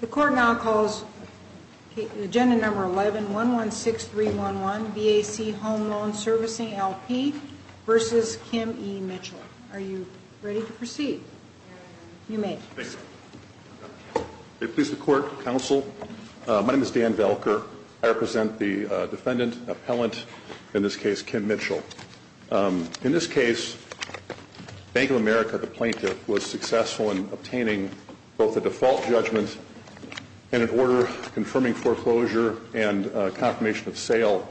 The court now calls the agenda number 11-116311 BAC Home Loans Servicing, LP v. Kim E. Mitchell. Are you ready to proceed? You may proceed. May it please the court, counsel. My name is Dan Velker. I represent the defendant appellant, in this case, Kim Mitchell. In this case, Bank of America, the plaintiff, was successful in obtaining both a default judgment and an order confirming foreclosure and a confirmation of sale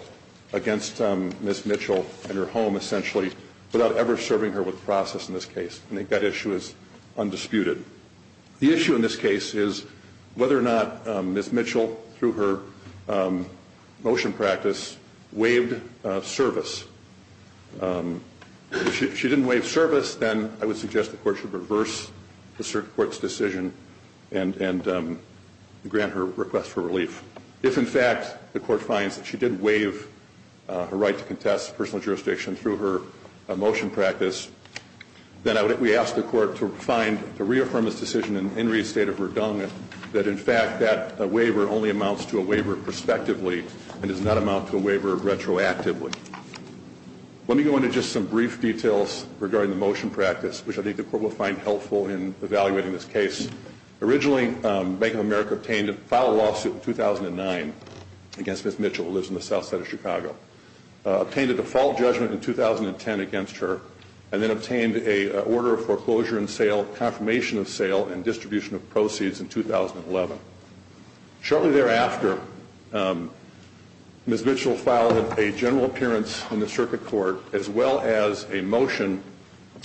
against Ms. Mitchell and her home, essentially, without ever serving her with the process in this case. I think that issue is undisputed. The issue in this case is whether or not Ms. Mitchell, through her motion practice, waived service. If she didn't waive service, then I would suggest the court should reverse the court's decision and grant her request for relief. If, in fact, the court finds that she did waive her right to contest personal jurisdiction through her motion practice, then I would ask the court to find, to reaffirm this decision and reinstate a verdunga that, in fact, that waiver only amounts to a waiver prospectively and does not amount to a waiver retroactively. Let me go into just some brief details regarding the motion practice, which I think the court will find helpful in evaluating this case. Originally, Bank of America obtained a file lawsuit in 2009 against Ms. Mitchell, who lives in the South Side of Chicago, obtained a default judgment in 2010 against her, and then obtained an order of foreclosure and sale, confirmation of sale, and distribution of proceeds in 2011. Shortly thereafter, Ms. Mitchell filed a general appearance in the circuit court, as well as a motion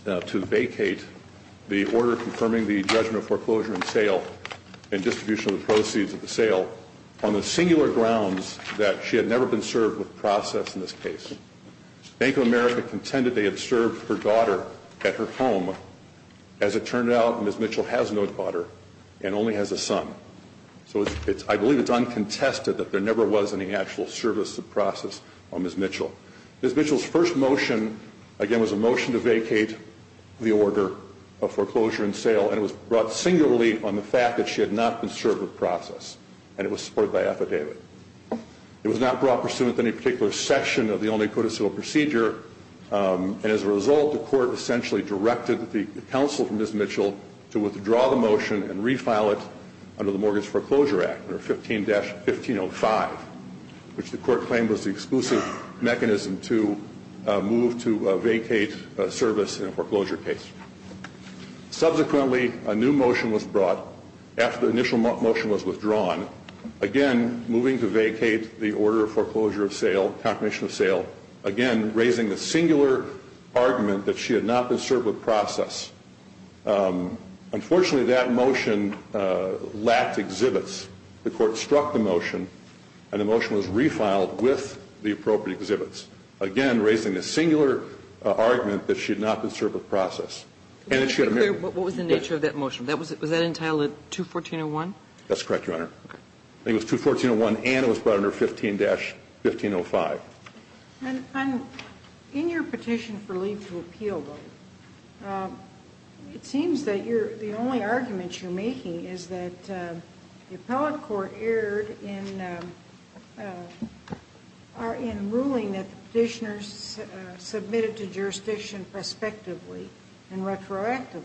to vacate the order confirming the judgment of foreclosure and sale and distribution of the proceeds of the sale, on the singular grounds that she had never been served with process in this case. Bank of America contended they had served her daughter at her home. As it turned out, Ms. Mitchell has no daughter and only has a son. So I believe it's uncontested that there never was any actual service of process on Ms. Mitchell. Ms. Mitchell's first motion, again, was a motion to vacate the order of foreclosure and sale, and it was brought singularly on the fact that she had not been served with process, and it was supported by affidavit. It was not brought pursuant to any particular section of the only codicil procedure, and as a result, the court essentially directed the counsel for Ms. Mitchell to withdraw the motion and refile it under the Mortgage Foreclosure Act, under 15-1505, which the court claimed was the exclusive mechanism to move to vacate service in a foreclosure case. Subsequently, a new motion was brought after the initial motion was withdrawn, again, moving to vacate the order of foreclosure of sale, confirmation of sale, again, raising the singular argument that she had not been served with process. Unfortunately, that motion lacked exhibits. The court struck the motion, and the motion was refiled with the appropriate exhibits, again, raising the singular argument that she had not been served with process, and that she had a marriage. What was the nature of that motion? Was that entitled 214-01? That's correct, Your Honor. I think it was 214-01, and it was brought under 15-1505. In your petition for leave to appeal, though, it seems that the only argument you're making is that the appellate court erred in ruling that the petitioners submitted to jurisdiction prospectively and retroactively,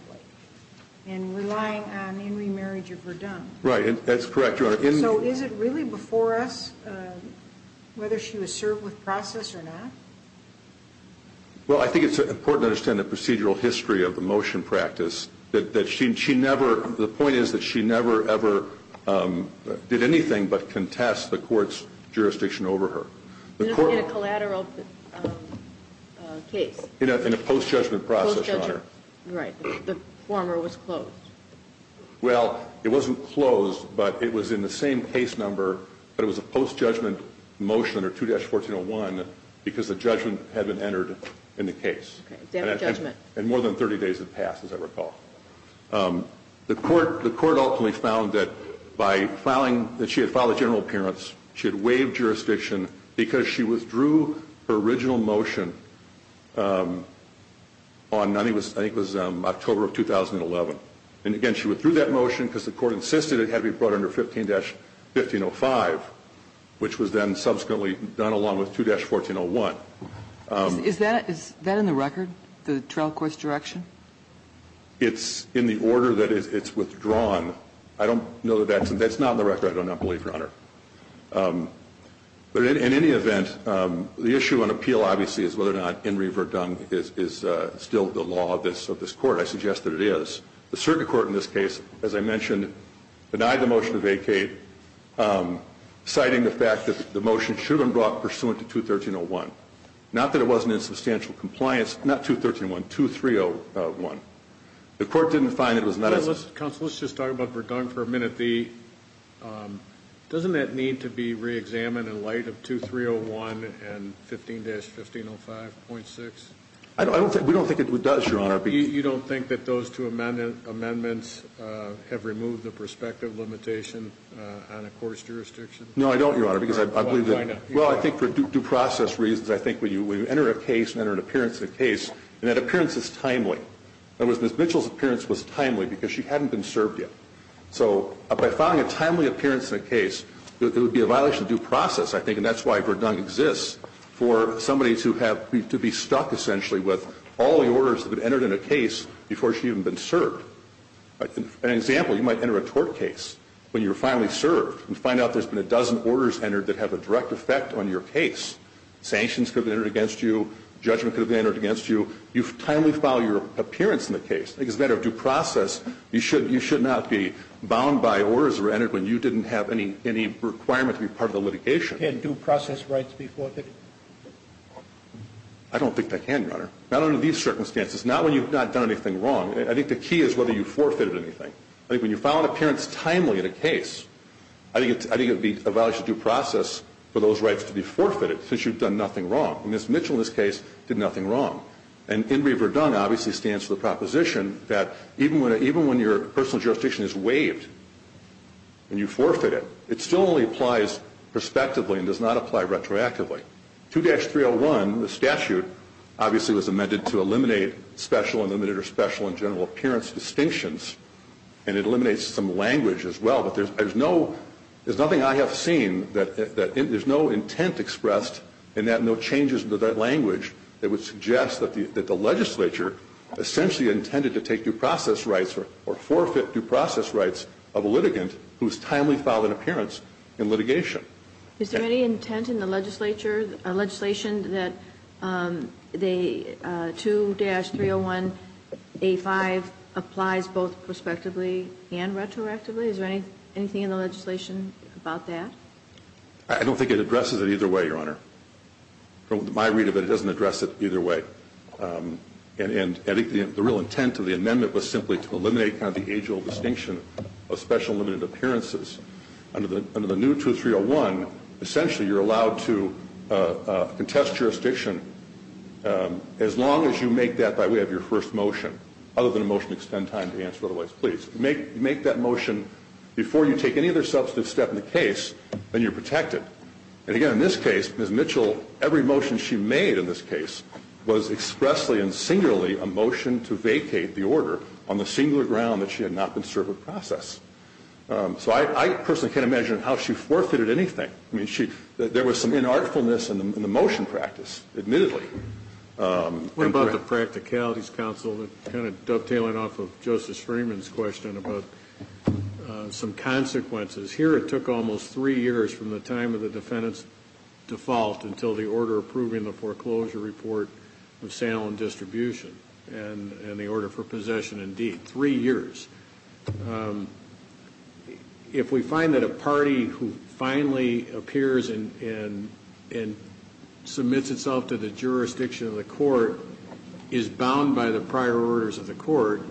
and relying on in remarriage if redundant. Right. That's correct, Your Honor. So is it really before us whether she was served with process or not? Well, I think it's important to understand the procedural history of the motion practice. The point is that she never, ever did anything but contest the court's jurisdiction over her. In a collateral case? In a post-judgment process, Your Honor. Right. The former was closed. Well, it wasn't closed, but it was in the same case number, but it was a post-judgment motion under 214-01 because the judgment had been entered in the case. Okay. Example judgment. And more than 30 days had passed, as I recall. The court ultimately found that by filing, that she had filed a general appearance, she had waived jurisdiction because she withdrew her original motion on, I think it was October of 2011. And again, she withdrew that motion because the court insisted it had to be brought under 15-1505, which was then subsequently done along with 2-1401. Is that in the record, the trial court's direction? It's in the order that it's withdrawn. I don't know that that's, that's not in the record, I do not believe, Your Honor. But in any event, the issue on appeal, obviously, is whether or not in re-verdung is still the law of this, of this court. I suggest that it is. The circuit court in this case, as I mentioned, denied the motion to vacate, citing the fact that the motion should have been brought pursuant to 213-01. Not that it wasn't in substantial compliance, not 213-01, 2-301. The court didn't find it was not as a... Counsel, let's just talk about verdung for a minute. Doesn't that need to be re-examined in light of 2-301 and 15-1505.6? I don't think, we don't think it does, Your Honor. You don't think that those two amendments have removed the prospective limitation on a court's jurisdiction? No, I don't, Your Honor, because I believe that... Why not? Well, I think for due process reasons, I think when you enter a case and enter an appearance in a case, and that appearance is timely. In other words, Ms. Mitchell's appearance was timely because she hadn't been served yet. So, by filing a timely appearance in a case, it would be a violation of due process, I think, and that's why verdung exists. For somebody to have, to be stuck, essentially, with all the orders that have been entered in a case before she had even been served. An example, you might enter a tort case when you're finally served and find out there's been a dozen orders entered that have a direct effect on your case. Sanctions could have been entered against you. Judgment could have been entered against you. You've timely filed your appearance in the case. I think as a matter of due process, you should not be bound by orders that were entered when you didn't have any requirement to be part of the litigation. Can due process rights be forfeited? I don't think they can, Your Honor. Not under these circumstances. Not when you've not done anything wrong. I think the key is whether you forfeited anything. I think when you file an appearance timely in a case, I think it would be a violation of due process for those rights to be forfeited since you've done nothing wrong. Ms. Mitchell, in this case, did nothing wrong. And In Re Verdung, obviously, stands for the proposition that even when your personal jurisdiction is waived and you forfeit it, it still only applies prospectively and does not apply retroactively. 2-301, the statute, obviously, was amended to eliminate special and limited or special in general appearance distinctions, and it eliminates some language as well. But there's nothing I have seen that there's no intent expressed and that no changes to that language that would suggest that the legislature essentially intended to take due process rights or forfeit due process rights of a litigant who's timely filed an appearance in litigation. Is there any intent in the legislature, a legislation that the 2-301A5 applies both prospectively and retroactively? Is there anything in the legislation about that? I don't think it addresses it either way, Your Honor. From my read of it, it doesn't address it either way. And I think the real intent of the amendment was simply to eliminate kind of the age-old distinction of special limited appearances under the new 2-301, essentially, you're allowed to contest jurisdiction as long as you make that by way of your first motion. Other than a motion to extend time to the answer otherwise. Please, make that motion before you take any other substantive step in the case, then you're protected. And again, in this case, Ms. Mitchell, every motion she made in this case was expressly and explicitly a motion to vacate the order on the singular ground that she had not been served with process. So I personally can't imagine how she forfeited anything. I mean, there was some inartfulness in the motion practice, admittedly. What about the practicalities, counsel, kind of dovetailing off of Justice Freeman's question about some consequences. Here it took almost three years from the time of the defendant's default until the order approving the foreclosure report of sale and distribution. And the order for possession indeed, three years. If we find that a party who finally appears and submits itself to the jurisdiction of the court is bound by the prior orders of the court,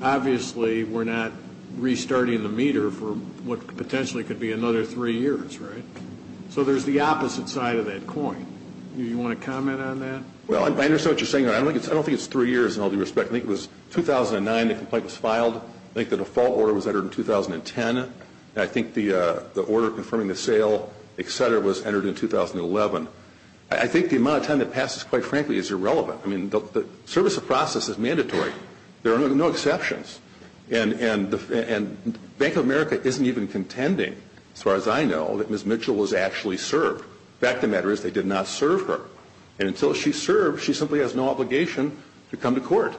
obviously we're not restarting the meter for what potentially could be another three years, right? So there's the opposite side of that coin. Do you want to comment on that? Well, I understand what you're saying, but I don't think it's three years in all due respect. I think it was 2009 the complaint was filed. I think the default order was entered in 2010, and I think the order confirming the sale, etc., was entered in 2011. I think the amount of time that passes, quite frankly, is irrelevant. I mean, the service of process is mandatory. There are no exceptions. And Bank of America isn't even contending, as far as I know, that Ms. Mitchell was actually served. The fact of the matter is they did not serve her. And until she's served, she simply has no obligation to come to court.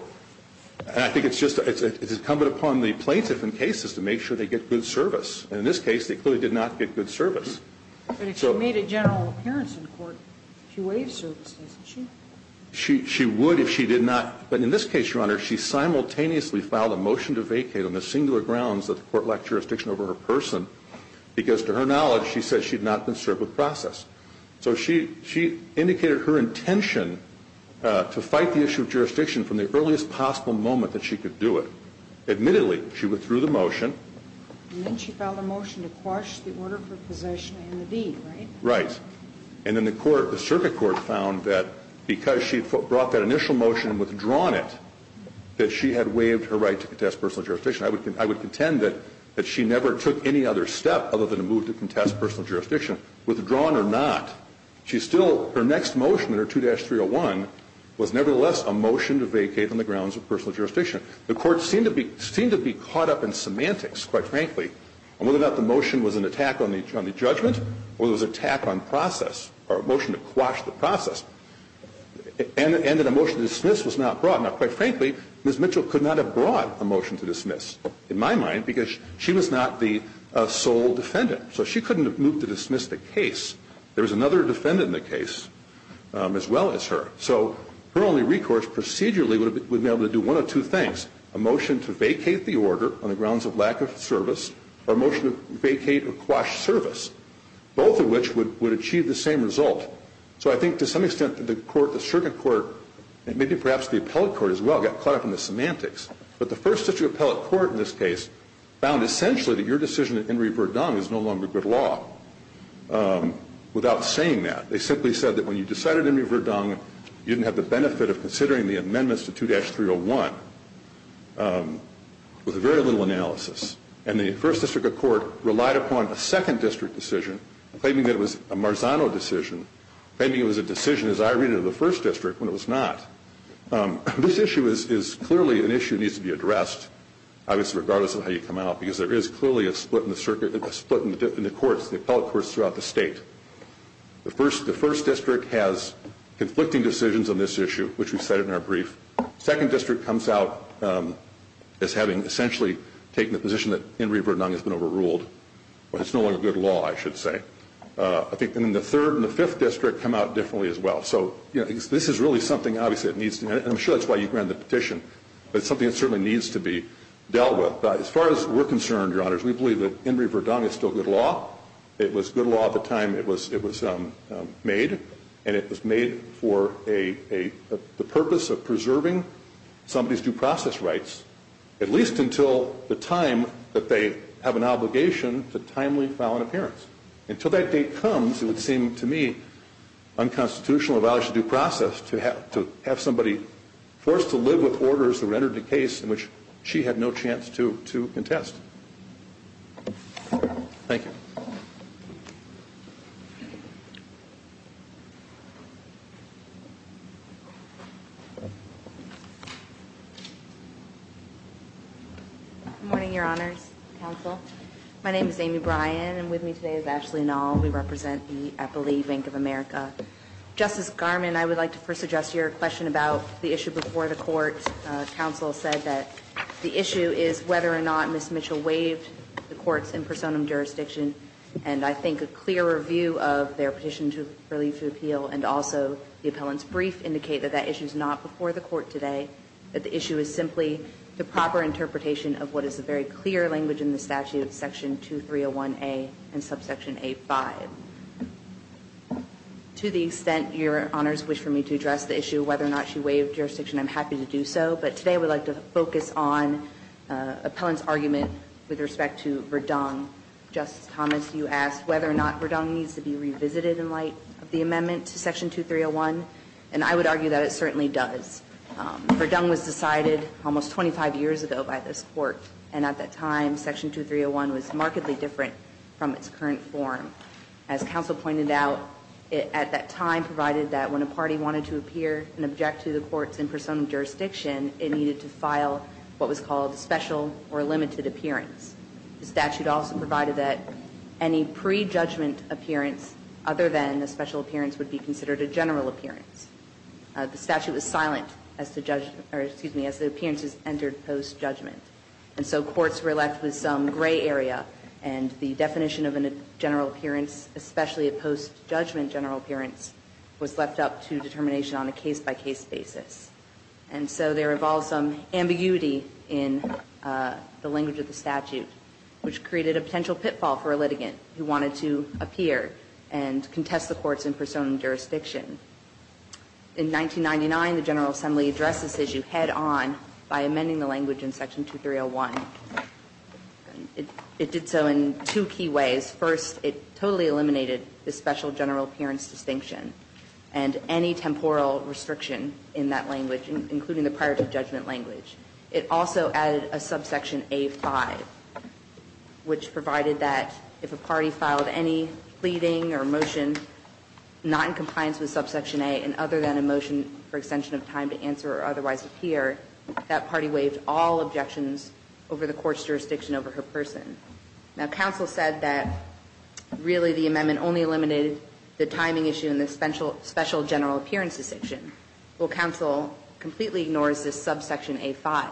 And I think it's incumbent upon the plaintiff in cases to make sure they get good service. And in this case, they clearly did not get good service. But if she made a general appearance in court, she waived services, didn't she? She would if she did not. But in this case, Your Honor, she simultaneously filed a motion to vacate on the singular grounds that the court lacked jurisdiction over her person, because to her knowledge, she said she had not been served with process. So she indicated her intention to fight the issue of jurisdiction from the earliest possible moment that she could do it. Admittedly, she withdrew the motion. And then she filed a motion to quash the order for possession and the deed, right? Right. And then the circuit court found that because she had brought that initial motion and withdrawn it, that she had waived her right to contest personal jurisdiction. I would contend that she never took any other step other than a move to contest personal jurisdiction, withdrawn or not. She still, her next motion under 2-301 was nevertheless a motion to vacate on the grounds of personal jurisdiction. The court seemed to be caught up in semantics, quite frankly, on whether or not the motion was an attack on the judgment or it was an attack on process or a motion to quash the process. And that a motion to dismiss was not brought. Now, quite frankly, Ms. Mitchell could not have brought a motion to dismiss, in my mind, because she was not the sole defendant. So she couldn't have moved to dismiss the case. There was another defendant in the case as well as her. So her only recourse procedurally would have been to be able to do one of two things, a motion to vacate the order on the grounds of lack of service or a motion to vacate or quash service, both of which would achieve the same result. So I think to some extent, the court, the circuit court, and maybe perhaps the appellate court as well, got caught up in the semantics. But the first district appellate court in this case found essentially that your decision at Henry v. Verdun is no longer good law. Without saying that, they simply said that when you decided Henry v. Verdun, you didn't have the benefit of considering the amendments to 2-301 with very little analysis. And the first district court relied upon a second district decision, claiming that it was a Marzano decision, claiming it was a decision as I read it in the first district when it was not. This issue is clearly an issue that needs to be addressed, obviously regardless of how you come out, because there is clearly a split in the circuit, a split in the courts, the appellate courts throughout the state. The first district has conflicting decisions on this issue, which we've said in our brief. Second district comes out as having essentially taken the position that Henry v. Verdun has been overruled. Well, it's no longer good law, I should say. I think, and then the third and the fifth district come out differently as well. So this is really something, obviously, it needs to, and I'm sure that's why you granted the petition, but it's something that certainly needs to be dealt with. But as far as we're concerned, your honors, we believe that Henry v. Verdun is still good law. It was good law at the time it was made, and it was made for the purpose of preserving somebody's due process rights, at least until the time that they have an obligation to timely file an appearance. Until that date comes, it would seem to me unconstitutional, a violation of due process, to have somebody forced to live with orders that were entered in a case in which she had no chance to contest. Thank you. Good morning, your honors, counsel. My name is Amy Bryan, and with me today is Ashley Nall. We represent the Eppley Bank of America. Justice Garmon, I would like to first suggest your question about the issue before the court. Counsel said that the issue is whether or not Ms. Mitchell waived the court's impersonum jurisdiction. And I think a clear review of their petition to relieve the appeal and also the appellant's brief indicate that that issue's not before the court today. That the issue is simply the proper interpretation of what is a very clear language in the statute, section 2301A and subsection A5. To the extent your honors wish for me to address the issue, whether or not she waived jurisdiction, I'm happy to do so. But today, I would like to focus on appellant's argument with respect to Verdung. Justice Thomas, you asked whether or not Verdung needs to be revisited in light of the amendment to section 2301, and I would argue that it certainly does. Verdung was decided almost 25 years ago by this court. And at that time, section 2301 was markedly different from its current form. As counsel pointed out, at that time provided that when a party wanted to appear and object to the court's impersonum jurisdiction, it needed to file what was called special or limited appearance. The statute also provided that any pre-judgment appearance other than a special appearance would be considered a general appearance. The statute was silent as the judge, or excuse me, as the appearances entered post-judgment. And so courts were left with some gray area, and the definition of a general appearance, especially a post-judgment general appearance, was left up to determination on a case-by-case basis. And so there evolved some ambiguity in the language of the statute, which created a potential pitfall for a litigant who wanted to appear and contest the court's impersonum jurisdiction. In 1999, the General Assembly addressed this issue head-on by amending the language in section 2301. It did so in two key ways. First, it totally eliminated the special general appearance distinction and any temporal restriction in that language, including the prior to judgment language. It also added a subsection A5, which provided that if a party filed any pleading or other than a motion for extension of time to answer or otherwise appear, that party waived all objections over the court's jurisdiction over her person. Now, counsel said that really the amendment only eliminated the timing issue in the special general appearance distinction. Well, counsel completely ignores this subsection A5.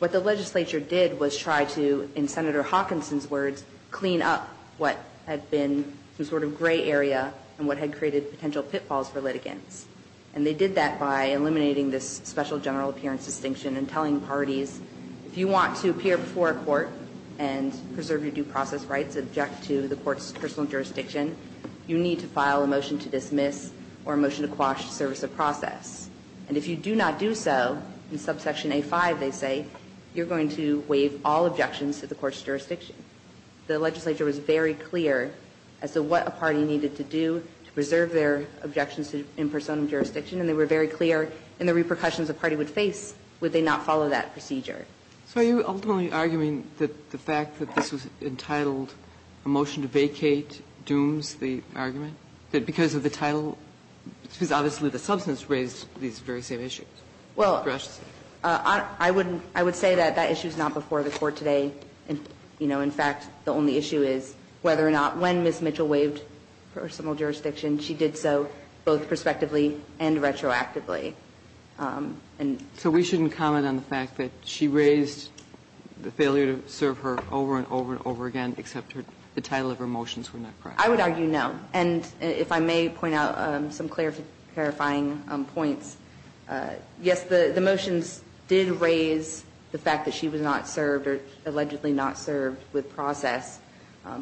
What the legislature did was try to, in Senator Hawkinson's words, clean up what had been some sort of gray area and what had created potential pitfalls for litigants. And they did that by eliminating this special general appearance distinction and telling parties, if you want to appear before a court and preserve your due process rights, object to the court's personal jurisdiction, you need to file a motion to dismiss or a motion to quash service of process. And if you do not do so, in subsection A5 they say, you're going to waive all objections to the court's jurisdiction. The legislature was very clear as to what a party needed to do to preserve their objections in persona of jurisdiction, and they were very clear in the repercussions a party would face would they not follow that procedure. So are you ultimately arguing that the fact that this was entitled a motion to vacate dooms the argument, that because of the title, because obviously the substance raised these very same issues? Well, I wouldn't – I would say that that issue is not before the Court today. You know, in fact, the only issue is whether or not when Ms. Mitchell waived personal jurisdiction, she did so both prospectively and retroactively. So we shouldn't comment on the fact that she raised the failure to serve her over and over and over again except the title of her motions were not correct? I would argue no. And if I may point out some clarifying points, yes, the motions did raise the fact that she was not served or allegedly not served with process,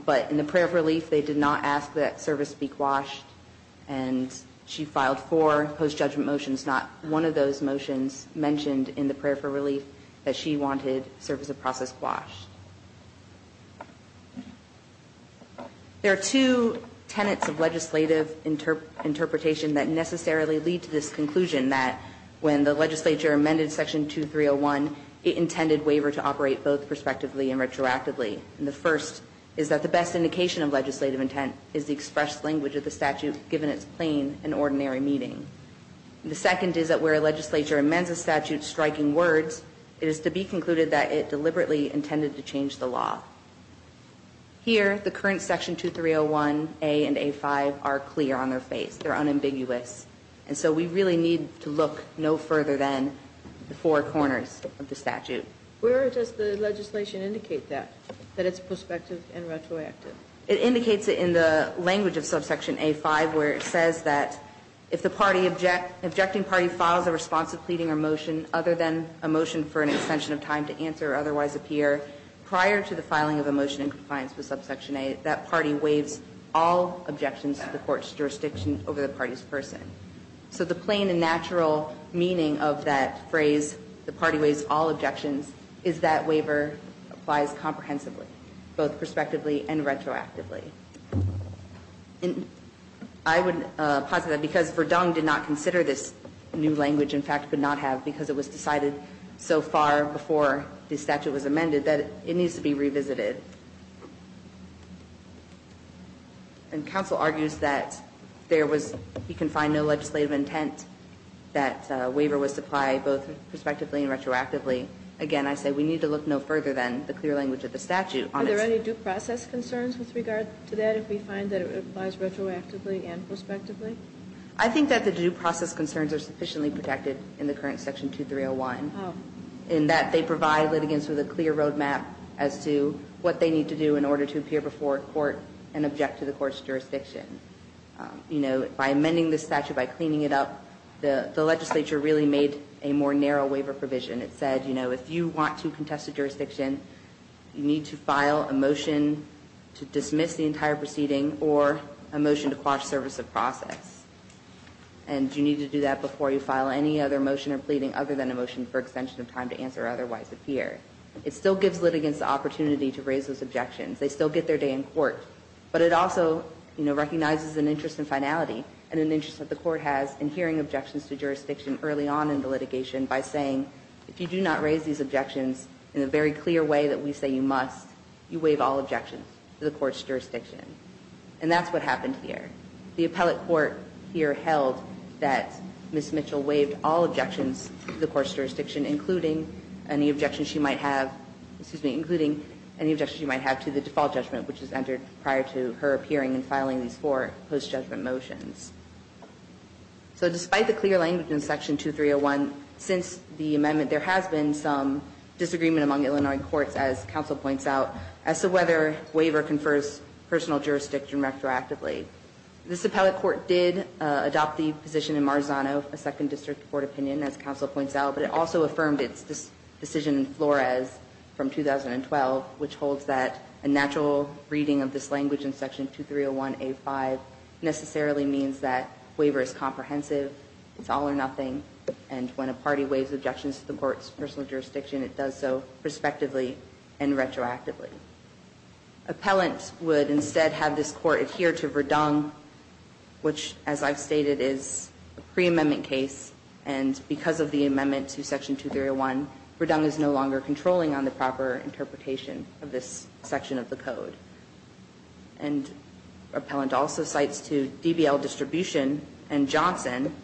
but in the prayer for relief, they did not ask that service be quashed, and she filed four post-judgment motions, not one of those motions mentioned in the prayer for relief that she wanted service of process quashed. There are two tenets of legislative interpretation that necessarily lead to this conclusion that when the legislature amended Section 2301, it intended waiver to operate both prospectively and retroactively. The first is that the best indication of legislative intent is the expressed language of the statute, given its plain and ordinary meaning. The second is that where a legislature amends a statute striking words, it is to be concluded that it deliberately intended to change the law. Here, the current Section 2301a and a5 are clear on their face. They're unambiguous. And so we really need to look no further than the four corners of the statute. Where does the legislation indicate that, that it's prospective and retroactive? It indicates it in the language of subsection a5, where it says that if the objecting party files a response of pleading or motion other than a motion for an extension of time to answer or otherwise appear prior to the filing of a motion in compliance with subsection a, that party waives all objections to the court's jurisdiction over the party's person. So the plain and natural meaning of that phrase, the party waives all objections, is that waiver applies comprehensively, both prospectively and retroactively. I would posit that because Verdung did not consider this new language, in fact, could not have because it was decided so far before the statute was amended, that it needs to be revisited. And counsel argues that there was, you can find no legislative intent. That waiver was to apply both prospectively and retroactively. Again, I say we need to look no further than the clear language of the statute. Are there any due process concerns with regard to that, if we find that it applies retroactively and prospectively? I think that the due process concerns are sufficiently protected in the current Section 2301. In that they provide litigants with a clear road map as to what they need to do in order to appear before a court and object to the court's jurisdiction. By amending this statute, by cleaning it up, the legislature really made a more narrow waiver provision. It said, if you want to contest a jurisdiction, you need to file a motion to dismiss the entire proceeding or a motion to quash service of process. And you need to do that before you file any other motion or pleading other than a motion for extension of time to answer or otherwise appear. It still gives litigants the opportunity to raise those objections. They still get their day in court. But it also recognizes an interest in finality and an interest that the court has in hearing objections to jurisdiction early on in the litigation by saying, if you do not raise these objections in a very clear way that we say you must, you waive all objections to the court's jurisdiction. And that's what happened here. The appellate court here held that Ms. Mitchell waived all objections to the court's jurisdiction, including any objections she might have, excuse me, including any objections she might have to the default judgment, which is entered prior to her appearing and filing these four post-judgment motions. So despite the clear language in section 2301, since the amendment, there has been some disagreement among Illinois courts, as counsel points out, as to whether waiver confers personal jurisdiction retroactively. This appellate court did adopt the position in Marzano, a second district court opinion, as counsel points out. But it also affirmed its decision in Flores from 2012, which holds that a natural reading of this language in section 2301A5 necessarily means that waiver is comprehensive, it's all or nothing. And when a party waives objections to the court's personal jurisdiction, it does so prospectively and retroactively. Appellant would instead have this court adhere to Verdung, which, as I've stated, is a pre-amendment case. And because of the amendment to section 2301, Verdung is no longer controlling on the proper interpretation of this section of the code. And appellant also cites to DBL Distribution and Johnson,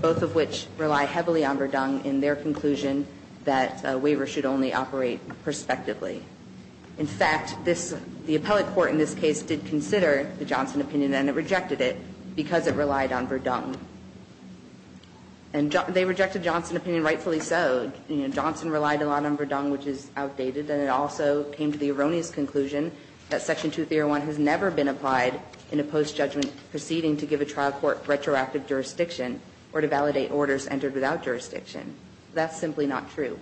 both of which rely heavily on Verdung in their conclusion that waiver should only operate prospectively. In fact, the appellate court in this case did consider the Johnson opinion, and it rejected it because it relied on Verdung. And they rejected Johnson's opinion rightfully so. Johnson relied a lot on Verdung, which is outdated. And it also came to the erroneous conclusion that section 2301 has never been applied in a post-judgment proceeding to give a trial court retroactive jurisdiction or to validate orders entered without jurisdiction. That's simply not true.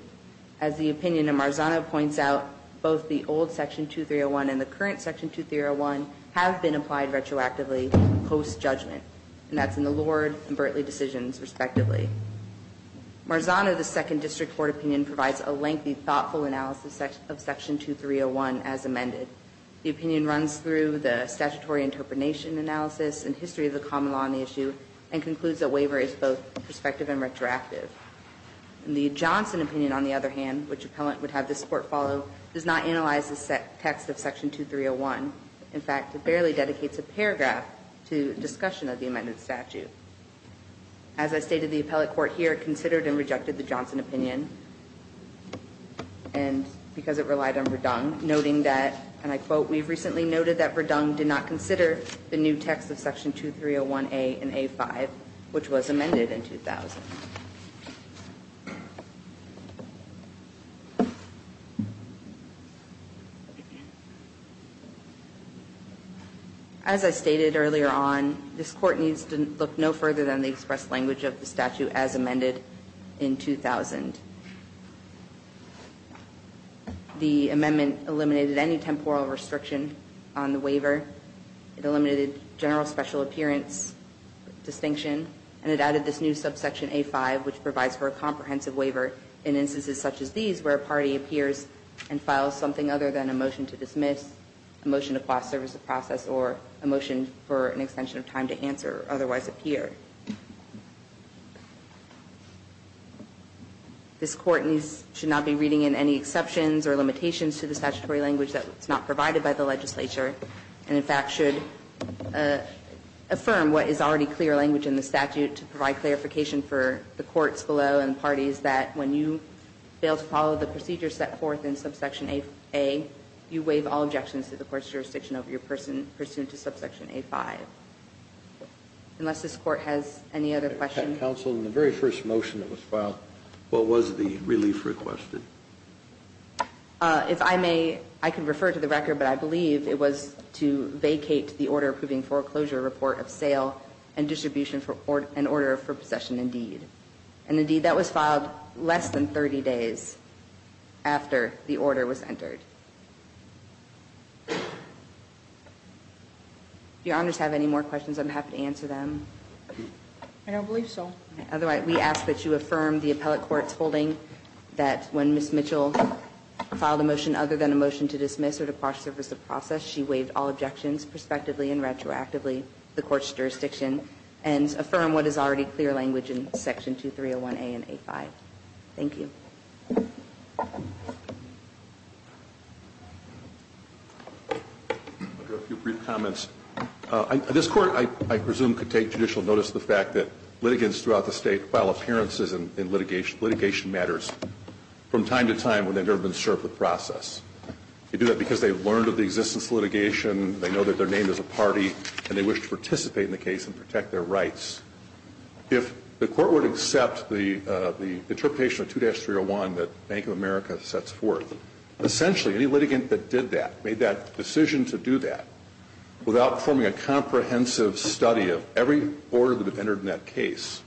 As the opinion of Marzano points out, both the old section 2301 and the current section 2301 have been applied retroactively post-judgment. And that's in the Lord and Bertley decisions, respectively. Marzano, the second district court opinion, provides a lengthy, thoughtful analysis of section 2301 as amended. The opinion runs through the statutory interpretation analysis and history of the common law on the issue, and concludes that waiver is both prospective and retroactive. The Johnson opinion, on the other hand, which appellant would have this court follow, does not analyze the text of section 2301. In fact, it barely dedicates a paragraph to discussion of the amended statute. As I stated, the appellate court here considered and rejected the Johnson opinion. And because it relied on Verdung, noting that, and I quote, we've recently noted that Verdung did not consider the new text of section 2301A and A5, which was amended in 2000. As I stated earlier on, this court needs to look no further than the express language of the statute as amended in 2000. The amendment eliminated any temporal restriction on the waiver. It eliminated general special appearance distinction, and it added this new subsection A5, which provides for a comprehensive waiver in instances such as these, where a party appears and files something other than a motion to dismiss, a motion to quash service of process, or a motion for an extension of time to answer or otherwise appear. This court should not be reading in any exceptions or limitations to the statutory language that's not provided by the legislature. And in fact, should affirm what is already clear language in the statute to provide clarification for the courts below and parties that when you fail to follow the procedure set forth in subsection A, you waive all objections to the court's jurisdiction over your person pursuant to subsection A5. Unless this court has any other questions? Counsel, in the very first motion that was filed, what was the relief requested? If I may, I can refer to the record, but I believe it was to vacate the order approving foreclosure report of sale and distribution for an order for possession indeed. And indeed, that was filed less than 30 days after the order was entered. Do your honors have any more questions? I'm happy to answer them. I don't believe so. Otherwise, we ask that you affirm the appellate court's holding that when Ms. Mitchell filed a motion other than a motion to dismiss or to quash service of process, she waived all objections, prospectively and retroactively, the court's jurisdiction. And affirm what is already clear language in section 2301A and A5. Thank you. I'll do a few brief comments. This court, I presume, could take judicial notice of the fact that litigants throughout the state file appearances in litigation matters from time to time when they've never been served with process. They do that because they've learned of the existence of litigation, they know that their name is a party, and they wish to participate in the case and protect their rights. If the court were to accept the interpretation of 2-301 that Bank of America sets forth, essentially any litigant that did that, made that decision to do that, without forming a comprehensive study of every order that entered in that case.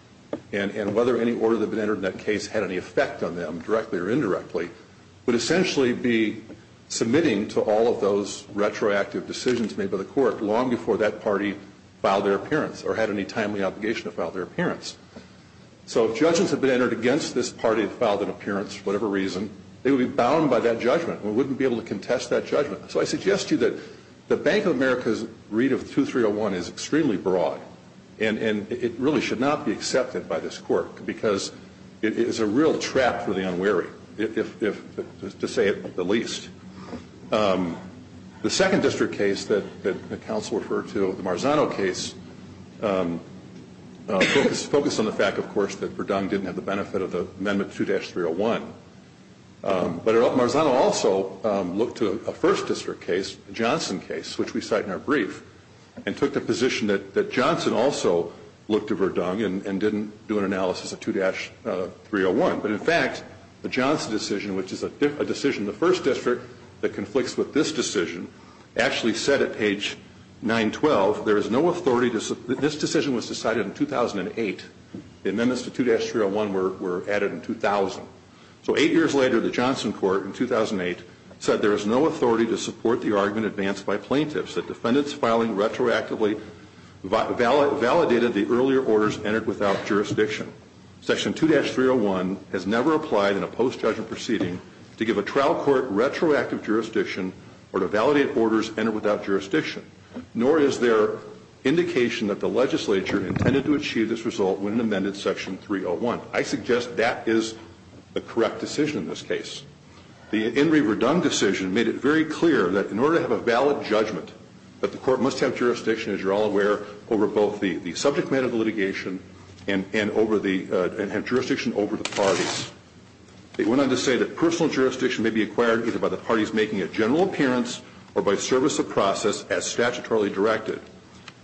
And whether any order that entered in that case had any effect on them, directly or indirectly, would essentially be submitting to all of those retroactive decisions made by the court long before that party filed their appearance or had any timely obligation to file their appearance. So if judges have been entered against this party that filed an appearance for whatever reason, they would be bound by that judgment. We wouldn't be able to contest that judgment. So I suggest to you that the Bank of America's read of 2301 is extremely broad. And it really should not be accepted by this court because it is a real trap for the unwary, to say the least. The second district case that the counsel referred to, the Marzano case, focused on the fact, of course, that Verdung didn't have the benefit of the Amendment 2-301. But Marzano also looked to a first district case, a Johnson case, which we cite in our brief, and took the position that Johnson also looked to Verdung and didn't do an analysis of 2-301. But in fact, the Johnson decision, which is a decision in the first district that conflicts with this decision, actually said at page 912, there is no authority to, this decision was decided in 2008. The amendments to 2-301 were added in 2000. So eight years later, the Johnson court in 2008 said there is no authority to support the argument advanced by plaintiffs, that defendants filing retroactively validated the earlier orders entered without jurisdiction. Section 2-301 has never applied in a post-judgment proceeding to give a trial court retroactive jurisdiction or to validate orders entered without jurisdiction, nor is there indication that the legislature intended to achieve this result when it amended section 301. I suggest that is the correct decision in this case. The in re Verdung decision made it very clear that in order to have a valid judgment, that the court must have jurisdiction, as you're all aware, over both the subject matter of the litigation and have jurisdiction over the parties. It went on to say that personal jurisdiction may be acquired either by the parties making a general appearance or by service of process as statutorily directed.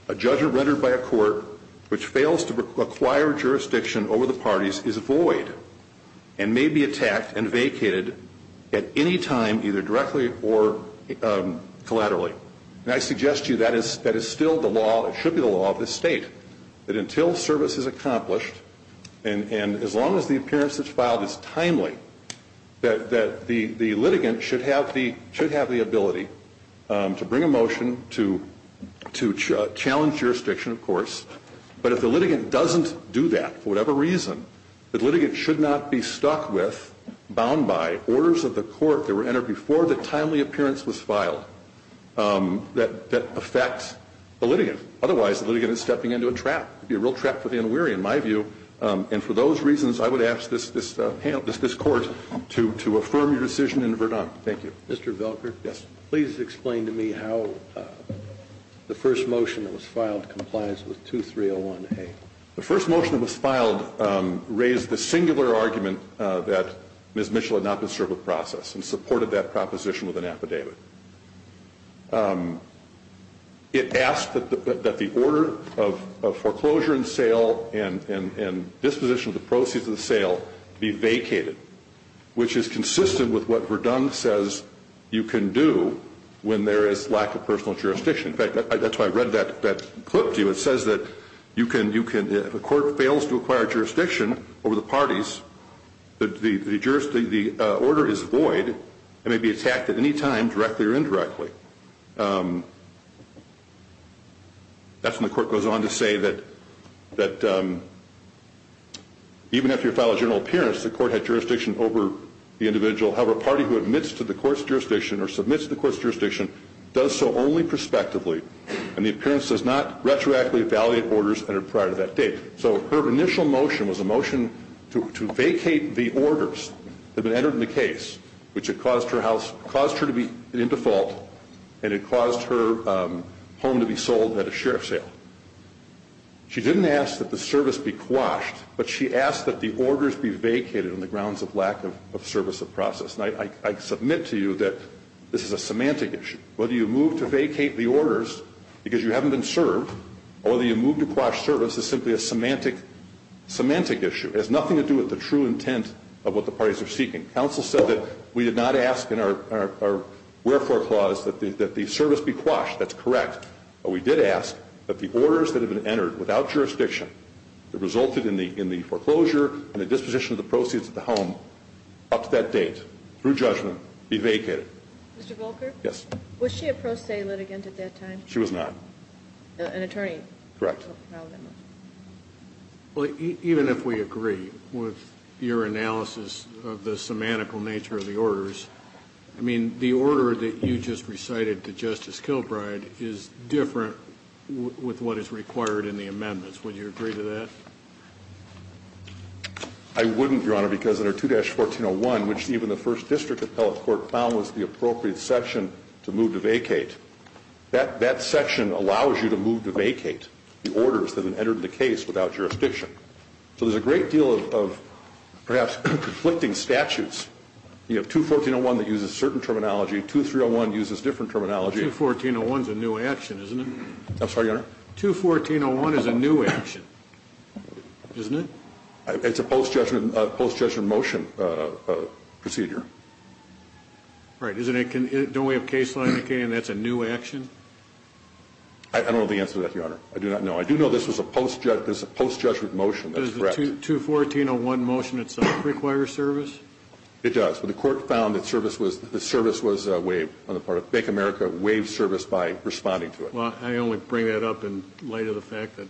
A judge rendered by a court which fails to acquire jurisdiction over the parties is void and may be attacked and vacated at any time either directly or collaterally. And I suggest to you that is still the law, it should be the law of this state. That until service is accomplished, and as long as the appearance that's filed is timely, that the litigant should have the ability to bring a motion to challenge jurisdiction, of course. But if the litigant doesn't do that, for whatever reason, the litigant should not be stuck with, bound by, orders of the court that were entered before the timely appearance was filed that affects the litigant. Otherwise, the litigant is stepping into a trap, a real trap for the unwary, in my view. And for those reasons, I would ask this court to affirm your decision in Verdung. Thank you. Mr. Velker? Yes. Please explain to me how the first motion that was filed complies with 2301A. The first motion that was filed raised the singular argument that Ms. Mitchell had not been served with process and supported that proposition with an affidavit. It asked that the order of foreclosure and sale and disposition of the proceeds of the sale be vacated, which is consistent with what Verdung says you can do when there is lack of personal jurisdiction. In fact, that's why I read that clip to you. It says that if a court fails to acquire jurisdiction over the parties, the order is void and may be attacked at any time, directly or indirectly. That's when the court goes on to say that even after your file of general appearance, the court had jurisdiction over the individual, however, a party who admits to the court's jurisdiction or submits to the court's jurisdiction does so only prospectively, and the appearance does not retroactively evaluate orders entered prior to that date. So her initial motion was a motion to vacate the orders that had been entered in the case, which had caused her house, caused her to be in default, and it caused her home to be sold at a sheriff sale. She didn't ask that the service be quashed, but she asked that the orders be vacated on the grounds of lack of service of process. And I submit to you that this is a semantic issue. Whether you move to vacate the orders because you haven't been served, or whether you move to quash service is simply a semantic issue. It has nothing to do with the true intent of what the parties are seeking. Council said that we did not ask in our wherefore clause that the service be quashed. That's correct. But we did ask that the orders that have been entered without jurisdiction that resulted in the foreclosure and the disposition of the proceeds of the home up to that date, through judgment, be vacated. Mr. Volker? Yes. Was she a pro se litigant at that time? She was not. An attorney? Correct. Well, even if we agree with your analysis of the semantical nature of the orders, I mean, the order that you just recited to Justice Kilbride is different with what is required in the amendments. Would you agree to that? I wouldn't, your honor, because under 2-1401, which even the first district appellate court found was the appropriate section to move to vacate. That section allows you to move to vacate the orders that have entered the case without jurisdiction. So there's a great deal of perhaps conflicting statutes. You have 2-1401 that uses certain terminology, 2-301 uses different terminology. 2-1401's a new action, isn't it? I'm sorry, your honor? 2-1401 is a new action, isn't it? It's a post-judgment motion procedure. Right, don't we have case law indicating that's a new action? I don't know the answer to that, your honor. I do not know. I do know this was a post-judgment motion. That's correct. Does the 2-1401 motion itself require service? It does, but the court found that the service was waived on the part of Bank of America, waived service by responding to it. Well, I only bring that up in light of the fact that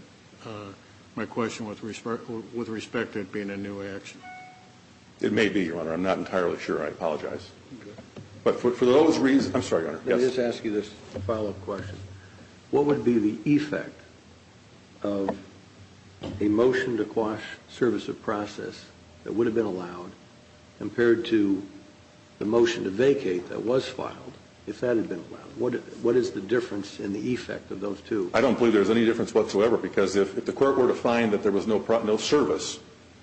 my question with respect to it being a new action. It may be, your honor. I'm not entirely sure. I apologize. But for those reasons, I'm sorry, your honor. Let me just ask you this follow-up question. What would be the effect of a motion to quash service of process that would have been allowed compared to the motion to vacate that was filed, if that had been allowed? What is the difference in the effect of those two? I don't believe there's any difference whatsoever, because if the court were to find that there was no service,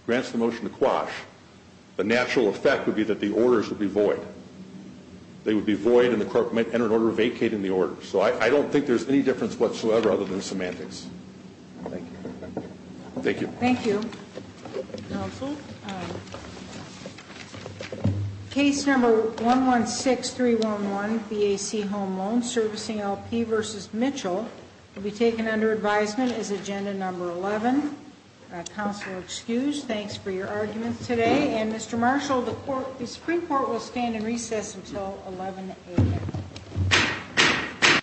grants the motion to quash, the natural effect would be that the orders would be void. They would be void and the court might enter an order vacating the order. So I don't think there's any difference whatsoever other than semantics. Thank you. Thank you. Counsel. Case number 116311, BAC Home Loan Servicing LP versus Mitchell. Will be taken under advisement as agenda number 11. Counsel, excused. Thanks for your arguments today. And Mr. Marshall, the Supreme Court will stand in recess until 11 a.m.